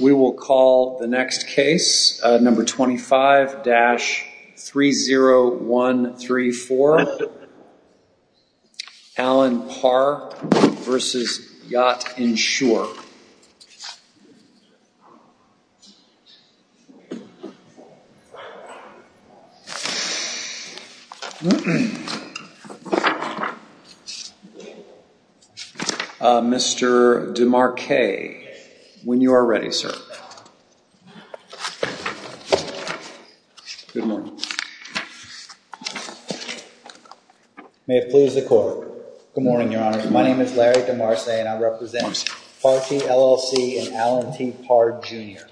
We will call the next case, number 25-30134. Alan Parr v. Yachtinsure. Mr. DeMarce, when you are ready, sir. Good morning. May it please the court. Good morning, Your Honor. My name is Larry DeMarce and I represent Parkey, LLC and Alan T. Parr, Jr.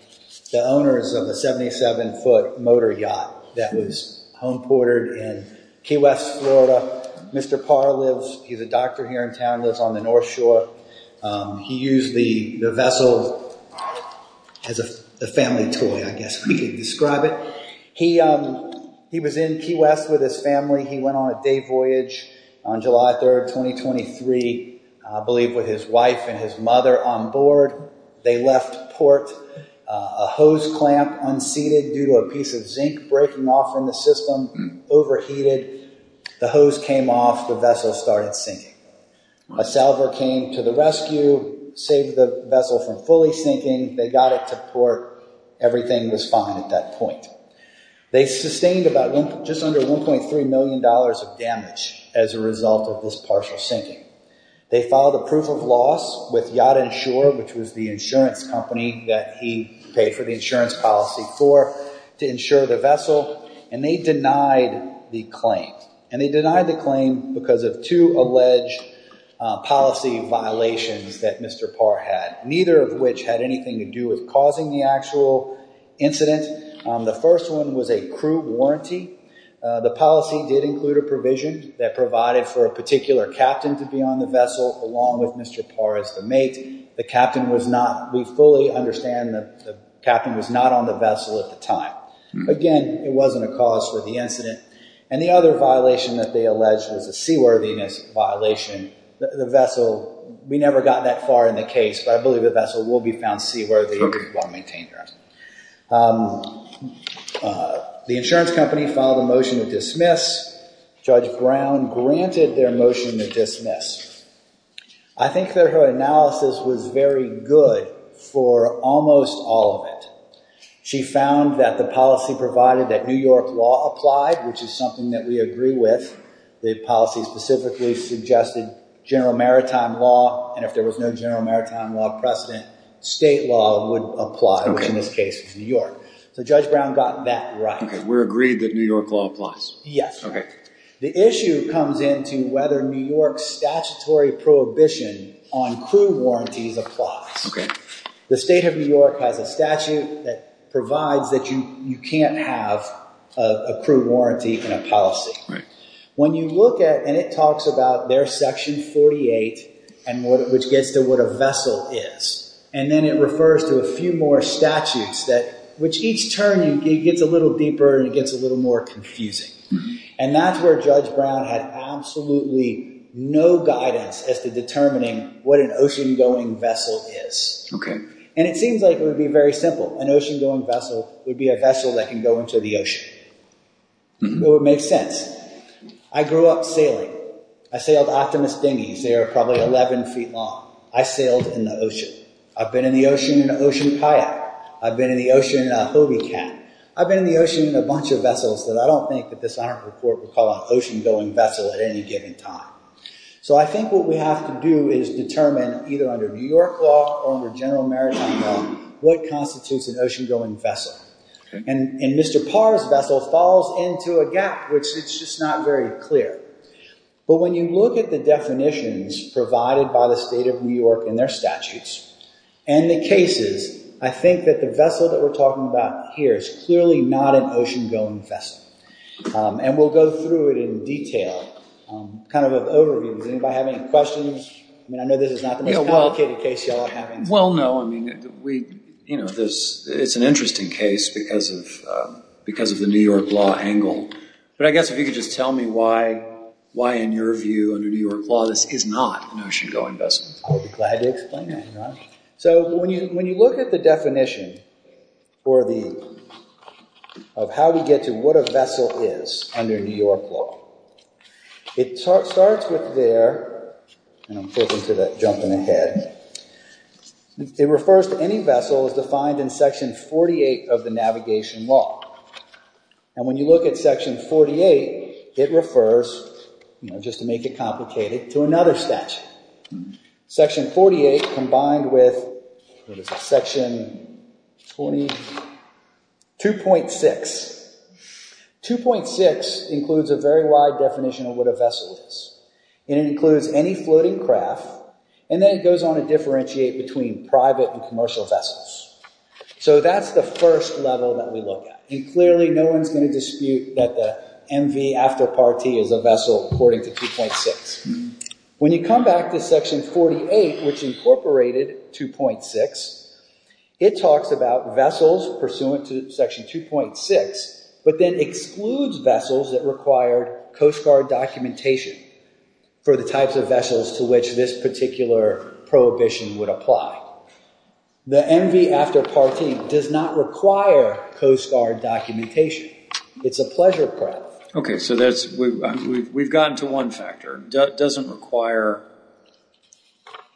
The owners of a 77-foot motor yacht that was home ported in Key West, Florida. Mr. Parr lives, he's a doctor here in town, lives on the North Shore. He used the vessel as a family toy, I guess we could describe it. He was in Key West with his family, he went on a day voyage on July 3rd, 2023, I believe with his wife and his mother on board. They left port, a hose clamp unseated due to a piece of zinc breaking off in the system, overheated. The hose came off, the vessel started sinking. A salver came to the rescue, saved the vessel from fully sinking, they got it to port, everything was fine at that point. They sustained just under $1.3 million of damage as a result of this partial sinking. They filed a proof of loss with Yachtinsure, which was the insurance company that he paid for the insurance policy for, to insure the vessel. And they denied the claim. And they denied the claim because of two alleged policy violations that Mr. Parr had. Neither of which had anything to do with causing the actual incident. The first one was a crew warranty. The policy did include a provision that provided for a particular captain to be on the vessel, along with Mr. Parr as the mate. The captain was not, we fully understand, the captain was not on the vessel at the time. Again, it wasn't a cause for the incident. And the other violation that they alleged was a seaworthiness violation. The vessel, we never got that far in the case, but I believe the vessel will be found seaworthy while maintained. The insurance company filed a motion to dismiss. Judge Brown granted their motion to dismiss. I think that her analysis was very good for almost all of it. She found that the policy provided that New York law applied, which is something that we agree with. The policy specifically suggested general maritime law. And if there was no general maritime law precedent, state law would apply, which in this case was New York. So Judge Brown got that right. We're agreed that New York law applies? Yes. Okay. The issue comes into whether New York statutory prohibition on crew warranties applies. Okay. The state of New York has a statute that provides that you can't have a crew warranty in a policy. Right. When you look at, and it talks about their section 48, which gets to what a vessel is. And then it refers to a few more statutes, which each turn, it gets a little deeper and it gets a little more confusing. And that's where Judge Brown had absolutely no guidance as to determining what an ocean-going vessel is. Okay. And it seems like it would be very simple. An ocean-going vessel would be a vessel that can go into the ocean. It would make sense. I grew up sailing. I sailed Optimus dinghies. They were probably 11 feet long. I sailed in the ocean. I've been in the ocean in an ocean kayak. I've been in the ocean in a Hobie cat. I've been in the ocean in a bunch of vessels that I don't think that this honorable court would call an ocean-going vessel at any given time. So I think what we have to do is determine, either under New York law or under general maritime law, what constitutes an ocean-going vessel. And Mr. Parr's vessel falls into a gap, which it's just not very clear. But when you look at the definitions provided by the state of New York in their statutes and the cases, I think that the vessel that we're talking about here is clearly not an ocean-going vessel. And we'll go through it in detail, kind of an overview. Does anybody have any questions? I mean, I know this is not the most complicated case you all are having. Well, no. I mean, it's an interesting case because of the New York law angle. But I guess if you could just tell me why, in your view, under New York law, this is not an ocean-going vessel. I'll be glad to explain that. So when you look at the definition of how we get to what a vessel is under New York law, it starts with there. And I'm flipping to that, jumping ahead. It refers to any vessel as defined in Section 48 of the Navigation Law. And when you look at Section 48, it refers, just to make it complicated, to another statute. Section 48 combined with Section 2.6. 2.6 includes a very wide definition of what a vessel is. And it includes any floating craft. And then it goes on to differentiate between private and commercial vessels. So that's the first level that we look at. And clearly, no one's going to dispute that the MV after Part T is a vessel according to 2.6. When you come back to Section 48, which incorporated 2.6, it talks about vessels pursuant to Section 2.6, but then excludes vessels that required Coast Guard documentation for the types of vessels to which this particular prohibition would apply. The MV after Part T does not require Coast Guard documentation. It's a pleasure prep. Okay, so we've gotten to one factor. It doesn't require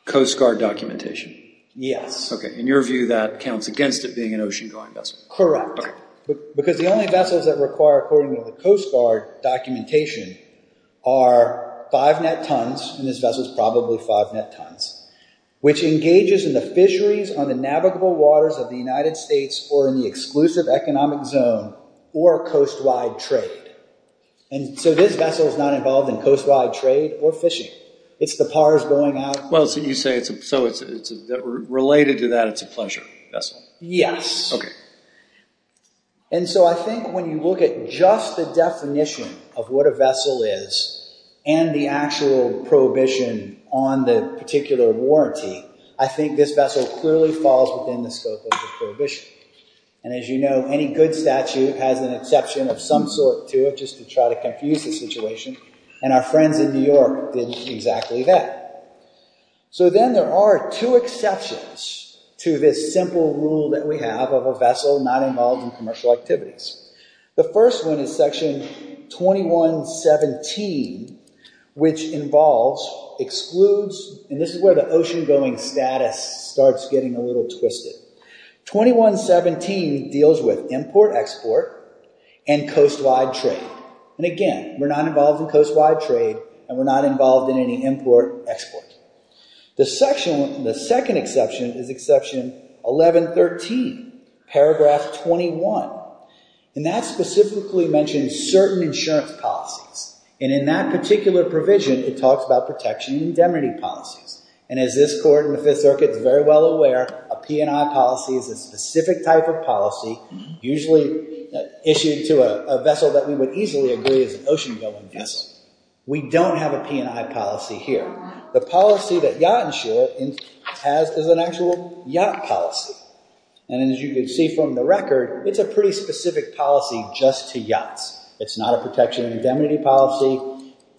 Coast Guard documentation. Yes. Okay. In your view, that counts against it being an ocean-going vessel. Correct. Because the only vessels that require, according to the Coast Guard documentation, are five net tons, and this vessel's probably five net tons, which engages in the fisheries on the navigable waters of the United States or in the exclusive economic zone or coast-wide trade. And so this vessel is not involved in coast-wide trade or fishing. It's the pars going out. Well, so you say it's related to that it's a pleasure vessel. Yes. Okay. And so I think when you look at just the definition of what a vessel is and the actual prohibition on the particular warranty, I think this vessel clearly falls within the scope of the prohibition. And as you know, any good statute has an exception of some sort to it just to try to confuse the situation, and our friends in New York did exactly that. So then there are two exceptions to this simple rule that we have of a vessel not involved in commercial activities. The first one is Section 2117, which involves, excludes, and this is where the ocean-going status starts getting a little twisted. 2117 deals with import-export and coast-wide trade. And again, we're not involved in coast-wide trade, and we're not involved in any import-export. The second exception is Exception 1113, Paragraph 21, and that specifically mentions certain insurance policies. And in that particular provision, it talks about protection and indemnity policies. And as this court in the Fifth Circuit is very well aware, a P&I policy is a specific type of policy usually issued to a vessel that we would easily agree is an ocean-going vessel. We don't have a P&I policy here. The policy that Yacht Insurance has is an actual yacht policy. And as you can see from the record, it's a pretty specific policy just to yachts. It's not a protection and indemnity policy,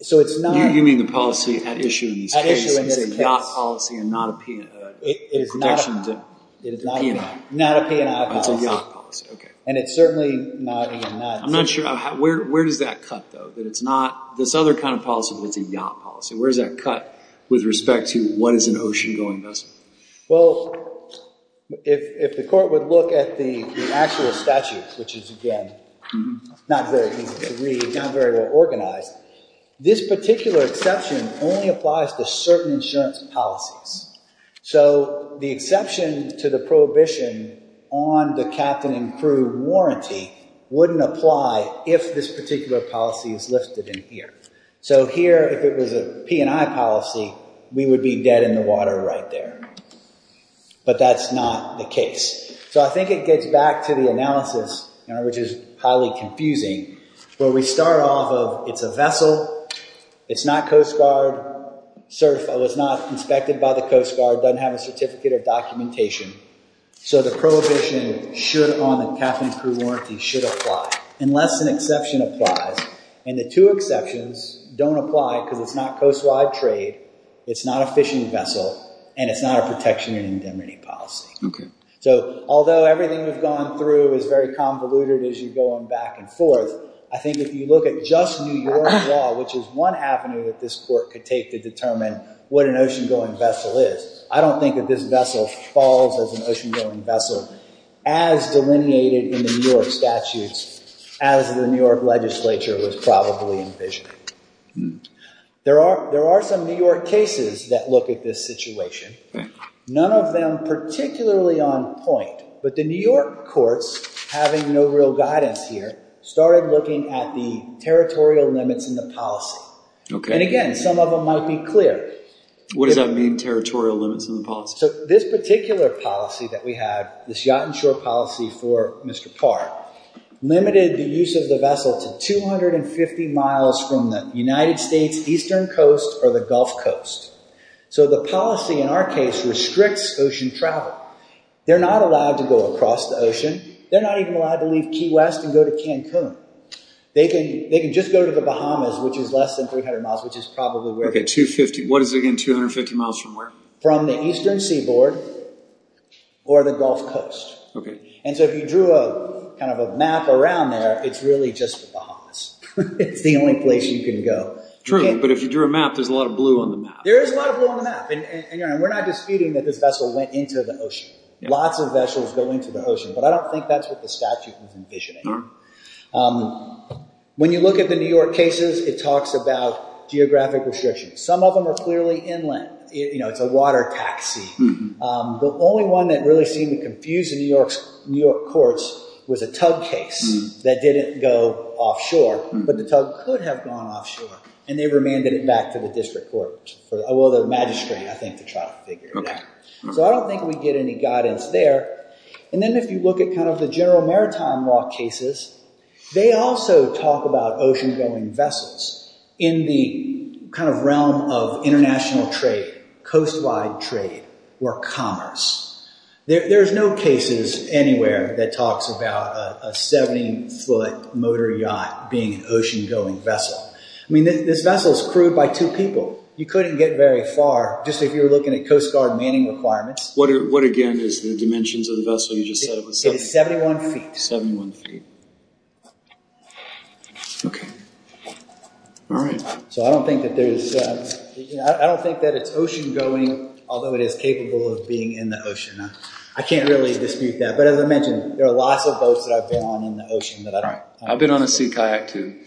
so it's not— You mean the policy at issue in this case. At issue in this case. It's a yacht policy and not a protection to P&I. Not a P&I policy. It's a yacht policy, okay. And it's certainly not a— I'm not sure. Where does that cut, though? That it's not this other kind of policy, but it's a yacht policy. Where does that cut with respect to what is an ocean-going vessel? Well, if the court would look at the actual statute, which is, again, not very easy to read, not very well organized, this particular exception only applies to certain insurance policies. So the exception to the prohibition on the captain and crew warranty wouldn't apply if this particular policy is listed in here. So here, if it was a P&I policy, we would be dead in the water right there. But that's not the case. So I think it gets back to the analysis, which is highly confusing, where we start off of it's a vessel. It's not Coast Guard certified. It was not inspected by the Coast Guard. It doesn't have a certificate of documentation. So the prohibition should on the captain and crew warranty should apply, unless an exception applies. And the two exceptions don't apply because it's not coast-wide trade, it's not a fishing vessel, and it's not a protection and indemnity policy. So although everything we've gone through is very convoluted as you go on back and forth, I think if you look at just New York law, which is one avenue that this court could take to determine what an ocean-going vessel is, I don't think that this vessel falls as an ocean-going vessel as delineated in the New York statutes as the New York legislature was probably envisioning. There are some New York cases that look at this situation. None of them particularly on point. But the New York courts, having no real guidance here, started looking at the territorial limits in the policy. And again, some of them might be clear. What does that mean, territorial limits in the policy? So this particular policy that we have, this yacht and shore policy for Mr. Parr, limited the use of the vessel to 250 miles from the United States eastern coast or the Gulf Coast. So the policy in our case restricts ocean travel. They're not allowed to go across the ocean. They're not even allowed to leave Key West and go to Cancun. They can just go to the Bahamas, which is less than 300 miles, which is probably where… Okay, 250, what is it again, 250 miles from where? From the eastern seaboard or the Gulf Coast. Okay. And so if you drew kind of a map around there, it's really just the Bahamas. It's the only place you can go. True, but if you drew a map, there's a lot of blue on the map. There is a lot of blue on the map, and we're not disputing that this vessel went into the ocean. Lots of vessels go into the ocean, but I don't think that's what the statute was envisioning. When you look at the New York cases, it talks about geographic restrictions. Some of them are clearly inland. It's a water taxi. The only one that really seemed to confuse the New York courts was a tug case that didn't go offshore, but the tug could have gone offshore, and they remanded it back to the district court, well, the magistrate, I think, to try to figure it out. So I don't think we get any guidance there. And then if you look at kind of the general maritime law cases, they also talk about ocean-going vessels in the kind of realm of international trade, coast-wide trade, or commerce. There's no cases anywhere that talks about a 70-foot motor yacht being an ocean-going vessel. I mean, this vessel is crewed by two people. You couldn't get very far, just if you were looking at Coast Guard manning requirements. What, again, is the dimensions of the vessel you just said it was 71 feet? It is 71 feet. 71 feet. Okay. All right. So I don't think that it's ocean-going, although it is capable of being in the ocean. I can't really dispute that. But as I mentioned, there are lots of boats that I've been on in the ocean. I've been on a sea kayak, too.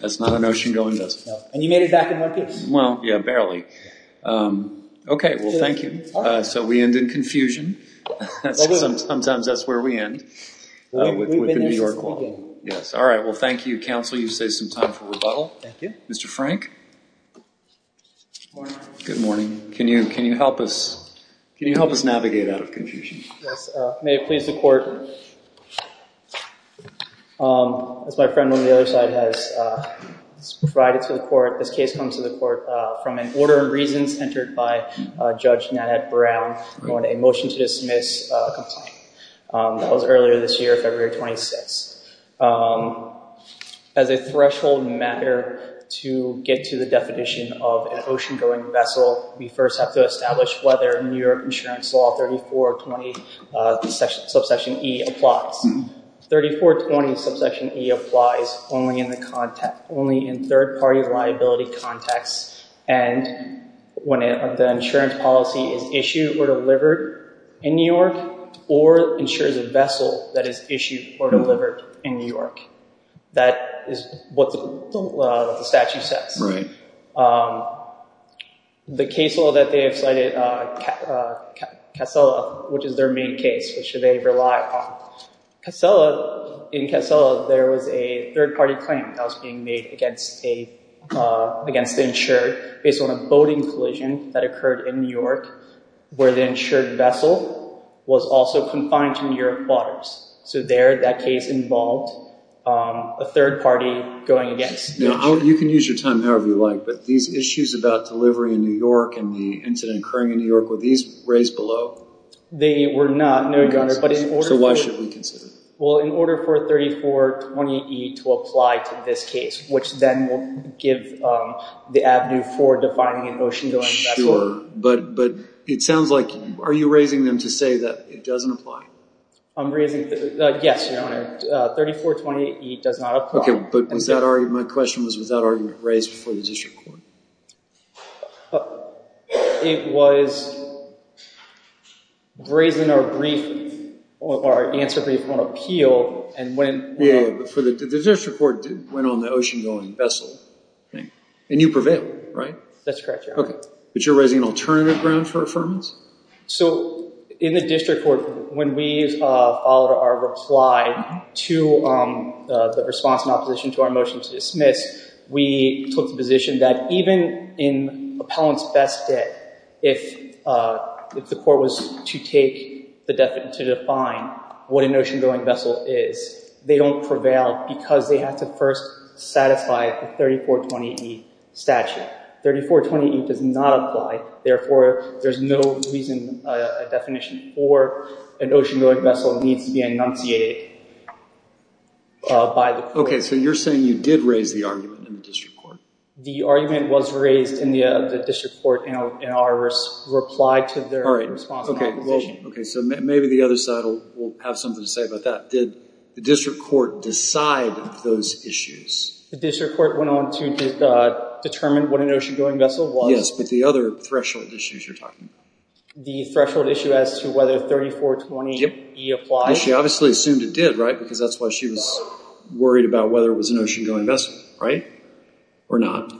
That's not an ocean-going vessel. And you made it back in one piece. Well, yeah, barely. Okay. Well, thank you. So we end in confusion. Sometimes that's where we end with the New York law. All right. Well, thank you, counsel. You've saved some time for rebuttal. Thank you. Mr. Frank? Good morning. Can you help us navigate out of confusion? Yes. May it please the Court. As my friend on the other side has provided to the Court, this case comes to the Court from an order of reasons entered by Judge Nanette Brown on a motion to dismiss a complaint. That was earlier this year, February 26th. As a threshold matter to get to the definition of an ocean-going vessel, we first have to establish whether New York Insurance Law 3420 subsection E applies. 3420 subsection E applies only in third-party liability context, and when the insurance policy is issued or delivered in New York or insures a vessel that is issued or delivered in New York. That is what the statute says. The case law that they have cited, Casela, which is their main case, which they rely upon. In Casela, there was a third-party claim that was being made against the insured based on a boating collision that occurred in New York where the insured vessel was also confined to New York waters. So there, that case involved a third party going against New York. You can use your time however you like, but these issues about delivery in New York and the incident occurring in New York, were these raised below? They were not, no, Your Honor. So why should we consider them? Well, in order for 3420E to apply to this case, which then will give the avenue for defining an ocean-going vessel. Sure, but it sounds like, are you raising them to say that it doesn't apply? I'm raising, yes, Your Honor. 3420E does not apply. Okay, but my question was, was that argument raised before the district court? It was raised in our answer brief on appeal. Yeah, but the district court went on the ocean-going vessel, and you prevailed, right? That's correct, Your Honor. Okay, but you're raising an alternative ground for affirmance? So in the district court, when we followed our reply to the response in opposition to our motion to dismiss, we took the position that even in appellant's best debt, if the court was to define what an ocean-going vessel is, they don't prevail because they have to first satisfy the 3420E statute. 3420E does not apply. Therefore, there's no reason a definition for an ocean-going vessel needs to be enunciated by the court. Okay, so you're saying you did raise the argument in the district court? The argument was raised in the district court in our reply to their response in opposition. Okay, so maybe the other side will have something to say about that. Did the district court decide those issues? The district court went on to determine what an ocean-going vessel was. Yes, but the other threshold issues you're talking about. The threshold issue as to whether 3420E applies? She obviously assumed it did, right? Because that's why she was worried about whether it was an ocean-going vessel, right? Or not?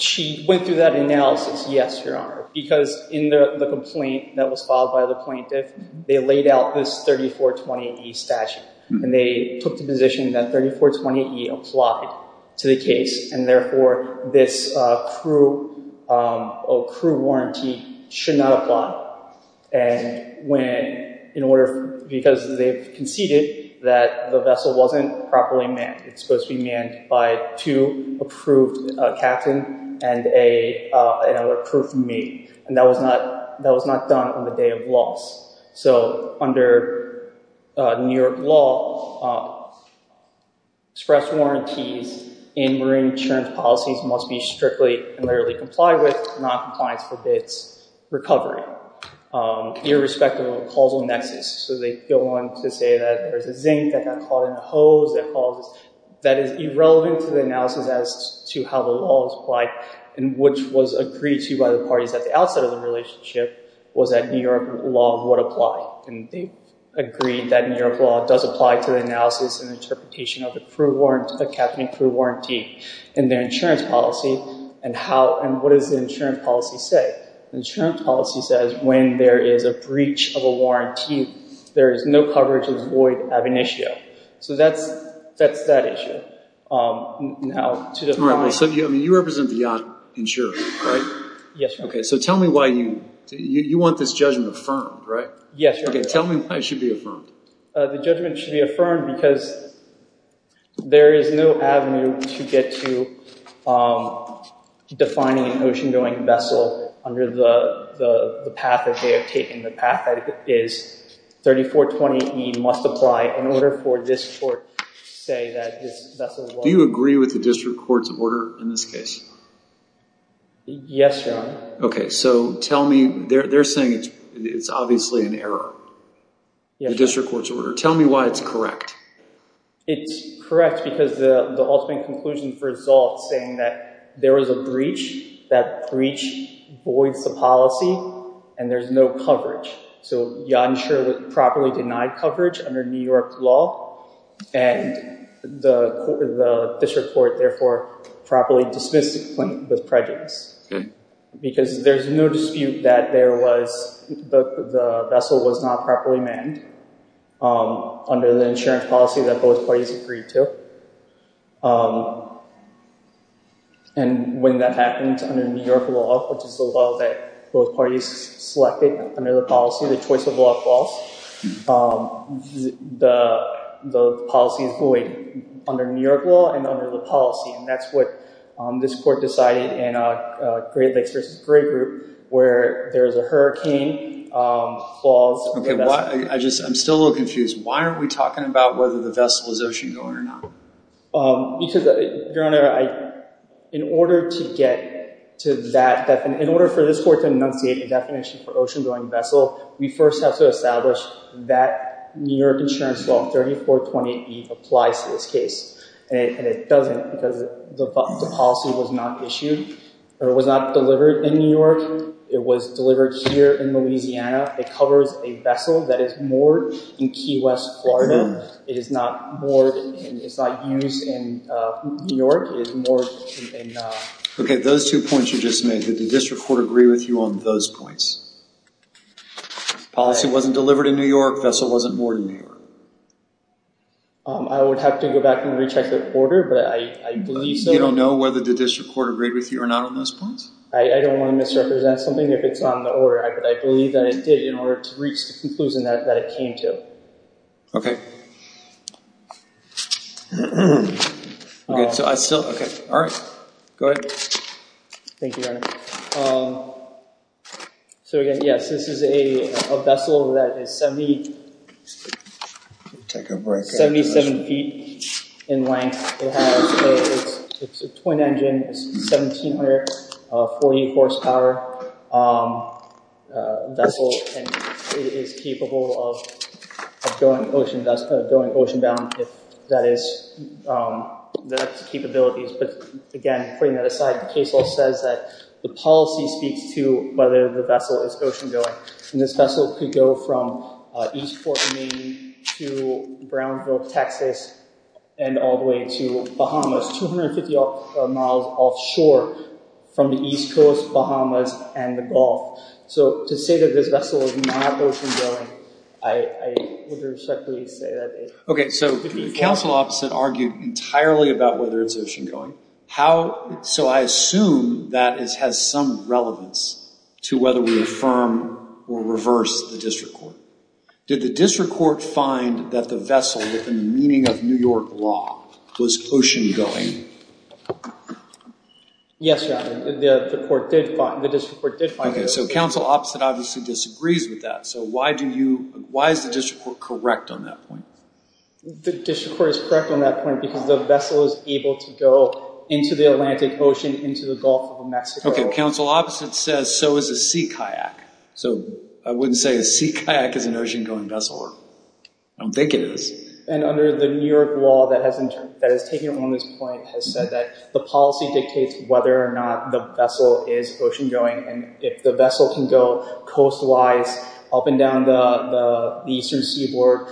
She went through that analysis, yes, Your Honor, because in the complaint that was filed by the plaintiff, they laid out this 3420E statute, and they took the position that 3420E applied to the case, and therefore this crew warranty should not apply. And because they've conceded that the vessel wasn't properly manned, it's supposed to be manned by two approved captains and an approved mate, and that was not done on the day of loss. So under New York law, express warranties in marine insurance policies must be strictly and literally complied with. Noncompliance forbids recovery, irrespective of the causal nexus. So they go on to say that there's a zinc that got caught in the hose that is irrelevant to the analysis as to how the law is applied, and which was agreed to by the parties at the outset of the relationship was that New York law would apply. And they agreed that New York law does apply to the analysis and interpretation of the captain and crew warranty. And their insurance policy and how and what does the insurance policy say? The insurance policy says when there is a breach of a warranty, there is no coverage of void ab initio. So that's that issue. Now, to the point. So you represent the yacht insurance, right? Yes, Your Honor. Okay, so tell me why you want this judgment affirmed, right? Yes, Your Honor. Okay, tell me why it should be affirmed. The judgment should be affirmed because there is no avenue to get to defining an ocean-going vessel under the path that they have taken. The path is 3420E must apply in order for this court to say that this vessel was. Do you agree with the district court's order in this case? Yes, Your Honor. Okay, so tell me. They're saying it's obviously an error. The district court's order. Tell me why it's correct. It's correct because the ultimate conclusion results saying that there was a breach, that breach voids the policy, and there's no coverage. So Yacht Insurance properly denied coverage under New York law, and the district court, therefore, properly dismissed the claim with prejudice. Because there's no dispute that there was the vessel was not properly manned under the insurance policy that both parties agreed to. And when that happened under New York law, which is the law that both parties selected under the policy, the choice of law falls, the policy is void under New York law and under the policy. And that's what this court decided in Great Lakes v. Gray Group, where there's a hurricane clause. Okay, I'm still a little confused. Why aren't we talking about whether the vessel is ocean-going or not? Because, Your Honor, in order for this court to enunciate a definition for ocean-going vessel, we first have to establish that New York insurance law 3420E applies to this case. And it doesn't because the policy was not issued. It was not delivered in New York. It was delivered here in Louisiana. It covers a vessel that is moored in Key West, Florida. It is not moored and it's not used in New York. Okay, those two points you just made, did the district court agree with you on those points? Policy wasn't delivered in New York. Vessel wasn't moored in New York. I would have to go back and recheck the order, but I believe so. You don't know whether the district court agreed with you or not on those points? I don't want to misrepresent something if it's on the order, but I believe that it did in order to reach the conclusion that it came to. All right, go ahead. Thank you, Your Honor. So, again, yes, this is a vessel that is 77 feet in length. It's a twin-engine, 1,740-horsepower vessel, and it is capable of going ocean-bound if that is the capability. But, again, putting that aside, the case law says that the policy speaks to whether the vessel is ocean-going, and this vessel could go from East Fork, Maine, to Brownsville, Texas, and all the way to Bahamas, 250 miles offshore from the East Coast, Bahamas, and the Gulf. So to say that this vessel is not ocean-going, I would respectfully say that it could be. Okay, so counsel opposite argued entirely about whether it's ocean-going. So I assume that has some relevance to whether we affirm or reverse the district court. Did the district court find that the vessel, with the meaning of New York law, was ocean-going? Yes, Your Honor, the district court did find that. Okay, so counsel opposite obviously disagrees with that. So why is the district court correct on that point? The district court is correct on that point because the vessel is able to go into the Atlantic Ocean, into the Gulf of Mexico. Okay, counsel opposite says so is a sea kayak. So I wouldn't say a sea kayak is an ocean-going vessel. I don't think it is. And under the New York law that has taken on this point has said that the policy dictates whether or not the vessel is ocean-going, and if the vessel can go coast-wise up and down the eastern seaboard.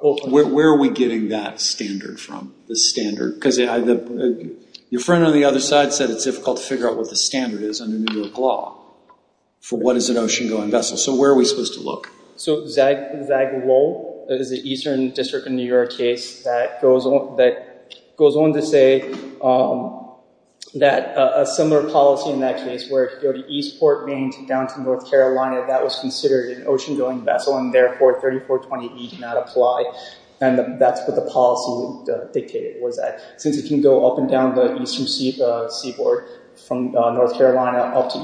Where are we getting that standard from, the standard? Because your friend on the other side said it's difficult to figure out what the standard is under New York law for what is an ocean-going vessel. So where are we supposed to look? So Zag Low is an eastern district in New York case that goes on to say that a similar policy in that case where it could go to Eastport, Maine, down to North Carolina, that was considered an ocean-going vessel, and therefore 3420E did not apply. And that's what the policy dictated, was that since it can go up and down the eastern seaboard from North Carolina up to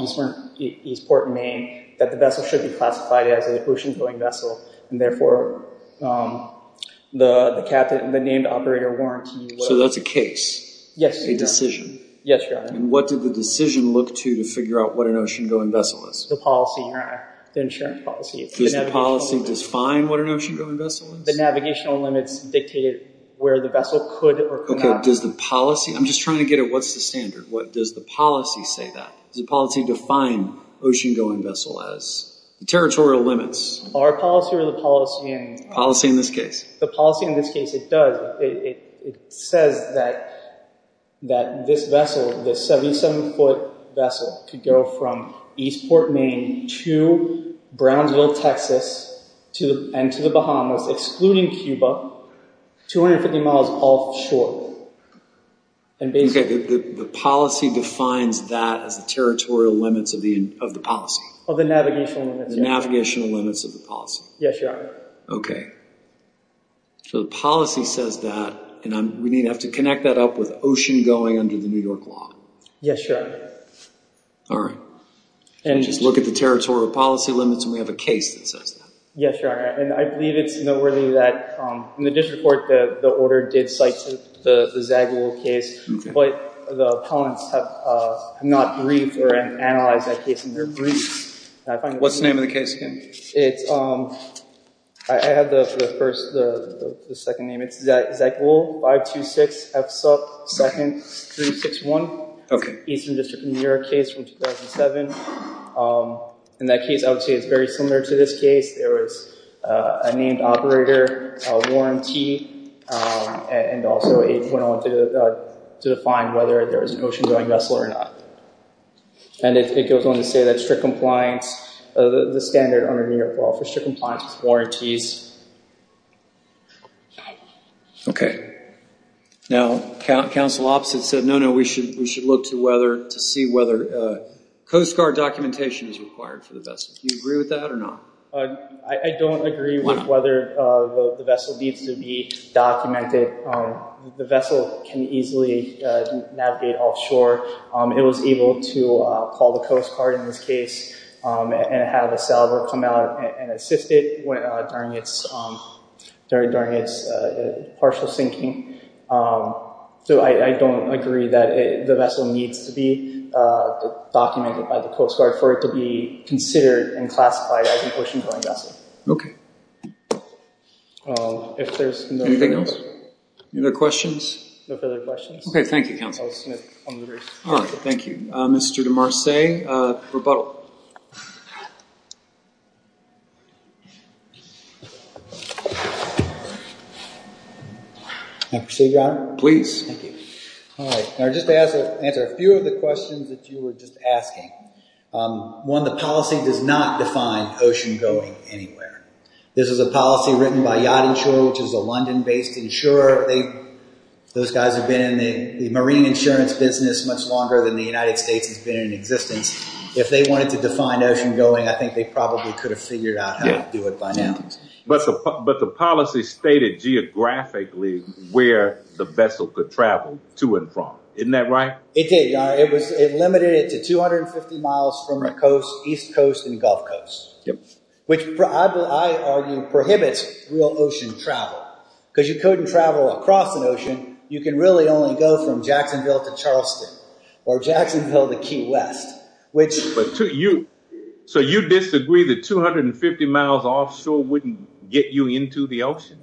Eastport, Maine, that the vessel should be classified as an ocean-going vessel, and therefore the named operator warrants... So that's a case? Yes, Your Honor. A decision? Yes, Your Honor. And what did the decision look to to figure out what an ocean-going vessel is? The policy, Your Honor. The insurance policy. Does the policy define what an ocean-going vessel is? The navigational limits dictate where the vessel could or could not... I'm just trying to get at what's the standard. What does the policy say that? Does the policy define ocean-going vessel as territorial limits? Our policy or the policy in... Policy in this case? The policy in this case, it does. It says that this vessel, this 77-foot vessel, could go from Eastport, Maine, to Brownsville, Texas, and to the Bahamas, excluding Cuba, 250 miles offshore. The policy defines that as the territorial limits of the policy? Of the navigational limits, yes. The navigational limits of the policy? Yes, Your Honor. Okay. So the policy says that, and we need to have to connect that up with ocean-going under the New York law. Yes, Your Honor. All right. Just look at the territorial policy limits, and we have a case that says that. Yes, Your Honor. And I believe it's noteworthy that in the district court, the order did cite the Zagul case, but the opponents have not briefed or analyzed that case in their brief. What's the name of the case again? It's... I have the first, the second name. It's Zagul 526F2nd361. Okay. Eastern District of New York case from 2007. In that case, I would say it's very similar to this case. There was a named operator, a warranty, and also it went on to define whether there was an ocean-going vessel or not. And it goes on to say that strict compliance, the standard under New York law for strict compliance is warranties. Okay. Now, counsel opposite said, no, no, we should look to see whether Coast Guard documentation is required for the vessel. Do you agree with that or not? I don't agree with whether the vessel needs to be documented. The vessel can easily navigate offshore. It was able to call the Coast Guard in this case and have a sailor come out and assist it during its partial sinking. So I don't agree that the vessel needs to be documented by the Coast Guard for it to be considered and classified as an ocean-going vessel. Okay. If there's... Anything else? Any other questions? No further questions. Okay. Thank you, counsel. All right. Thank you. Mr. De Marce, rebuttal. May I proceed, Your Honor? Please. Thank you. All right. I'll just answer a few of the questions that you were just asking. One, the policy does not define ocean-going anywhere. This is a policy written by Yacht Insurer, which is a London-based insurer. Those guys have been in the marine insurance business much longer than the United States has been in existence. If they wanted to define ocean-going, I think they probably could have figured out how to do it by now. But the policy stated geographically where the vessel could travel to and from. Isn't that right? It did, Your Honor. It limited it to 250 miles from the East Coast and Gulf Coast, which I argue prohibits real ocean travel. Because you couldn't travel across an ocean. You can really only go from Jacksonville to Charleston or Jacksonville to Key West, which... So you disagree that 250 miles offshore wouldn't get you into the ocean?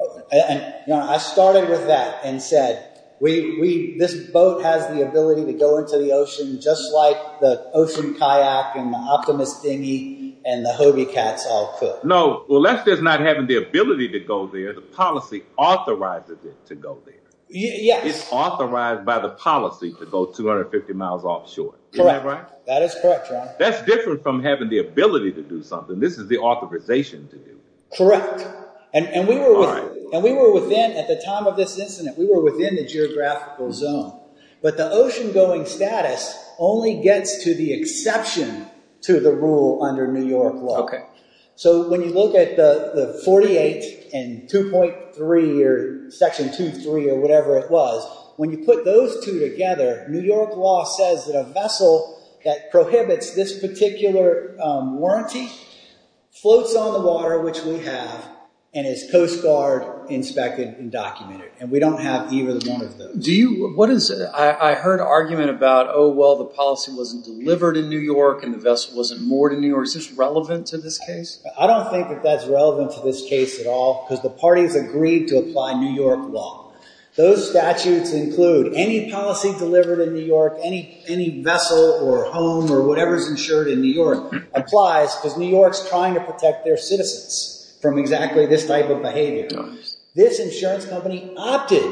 I started with that and said this boat has the ability to go into the ocean just like the ocean kayak and the Optimus dinghy and the Hobie Cats all could. No, unless there's not having the ability to go there, the policy authorizes it to go there. Yes. It's authorized by the policy to go 250 miles offshore. Correct. Isn't that right? That is correct, Your Honor. That's different from having the ability to do something. This is the authorization to do it. Correct. All right. And we were within, at the time of this incident, we were within the geographical zone. But the ocean-going status only gets to the exception to the rule under New York law. So when you look at the 48 and 2.3 or Section 2.3 or whatever it was, when you put those two together, New York law says that a vessel that prohibits this particular warranty floats on the water, which we have, and is Coast Guard inspected and documented. And we don't have either one of those. I heard an argument about, oh, well, the policy wasn't delivered in New York and the vessel wasn't moored in New York. Is this relevant to this case? I don't think that that's relevant to this case at all because the parties agreed to apply New York law. Those statutes include any policy delivered in New York, any vessel or home or whatever is insured in New York applies because New York's trying to protect their citizens from exactly this type of behavior. This insurance company opted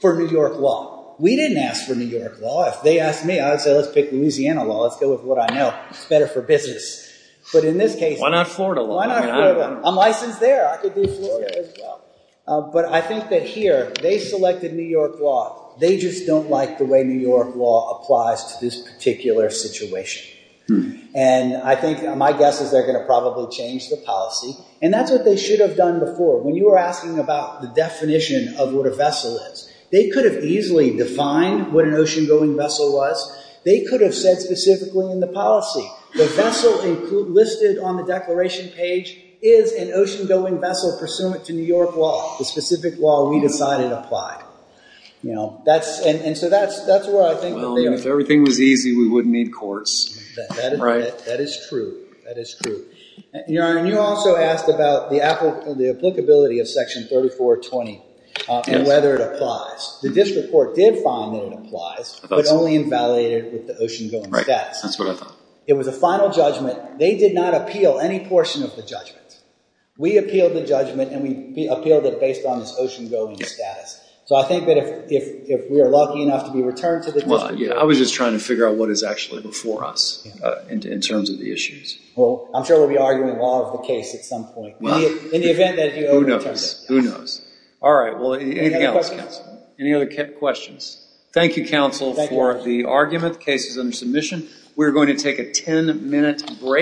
for New York law. We didn't ask for New York law. If they asked me, I would say let's pick Louisiana law. Let's go with what I know. It's better for business. But in this case— Why not Florida law? Why not Florida law? I'm licensed there. I could do Florida as well. But I think that here they selected New York law. They just don't like the way New York law applies to this particular situation. And I think my guess is they're going to probably change the policy. And that's what they should have done before. When you were asking about the definition of what a vessel is, they could have easily defined what an ocean-going vessel was. They could have said specifically in the policy. The vessel listed on the declaration page is an ocean-going vessel pursuant to New York law, the specific law we decided applied. And so that's where I think that they are. If everything was easy, we wouldn't need courts. That is true. That is true. Your Honor, you also asked about the applicability of Section 3420 and whether it applies. The district court did find that it applies but only invalidated with the ocean-going status. That's what I thought. It was a final judgment. They did not appeal any portion of the judgment. We appealed the judgment, and we appealed it based on this ocean-going status. So I think that if we are lucky enough to be returned to the district court— I was just trying to figure out what is actually before us in terms of the issues. Well, I'm sure we'll be arguing the law of the case at some point. In the event that— Who knows? Who knows? All right. Anything else, counsel? Any other questions? Thank you, counsel, for the argument. The case is under submission. We are going to take a ten-minute break.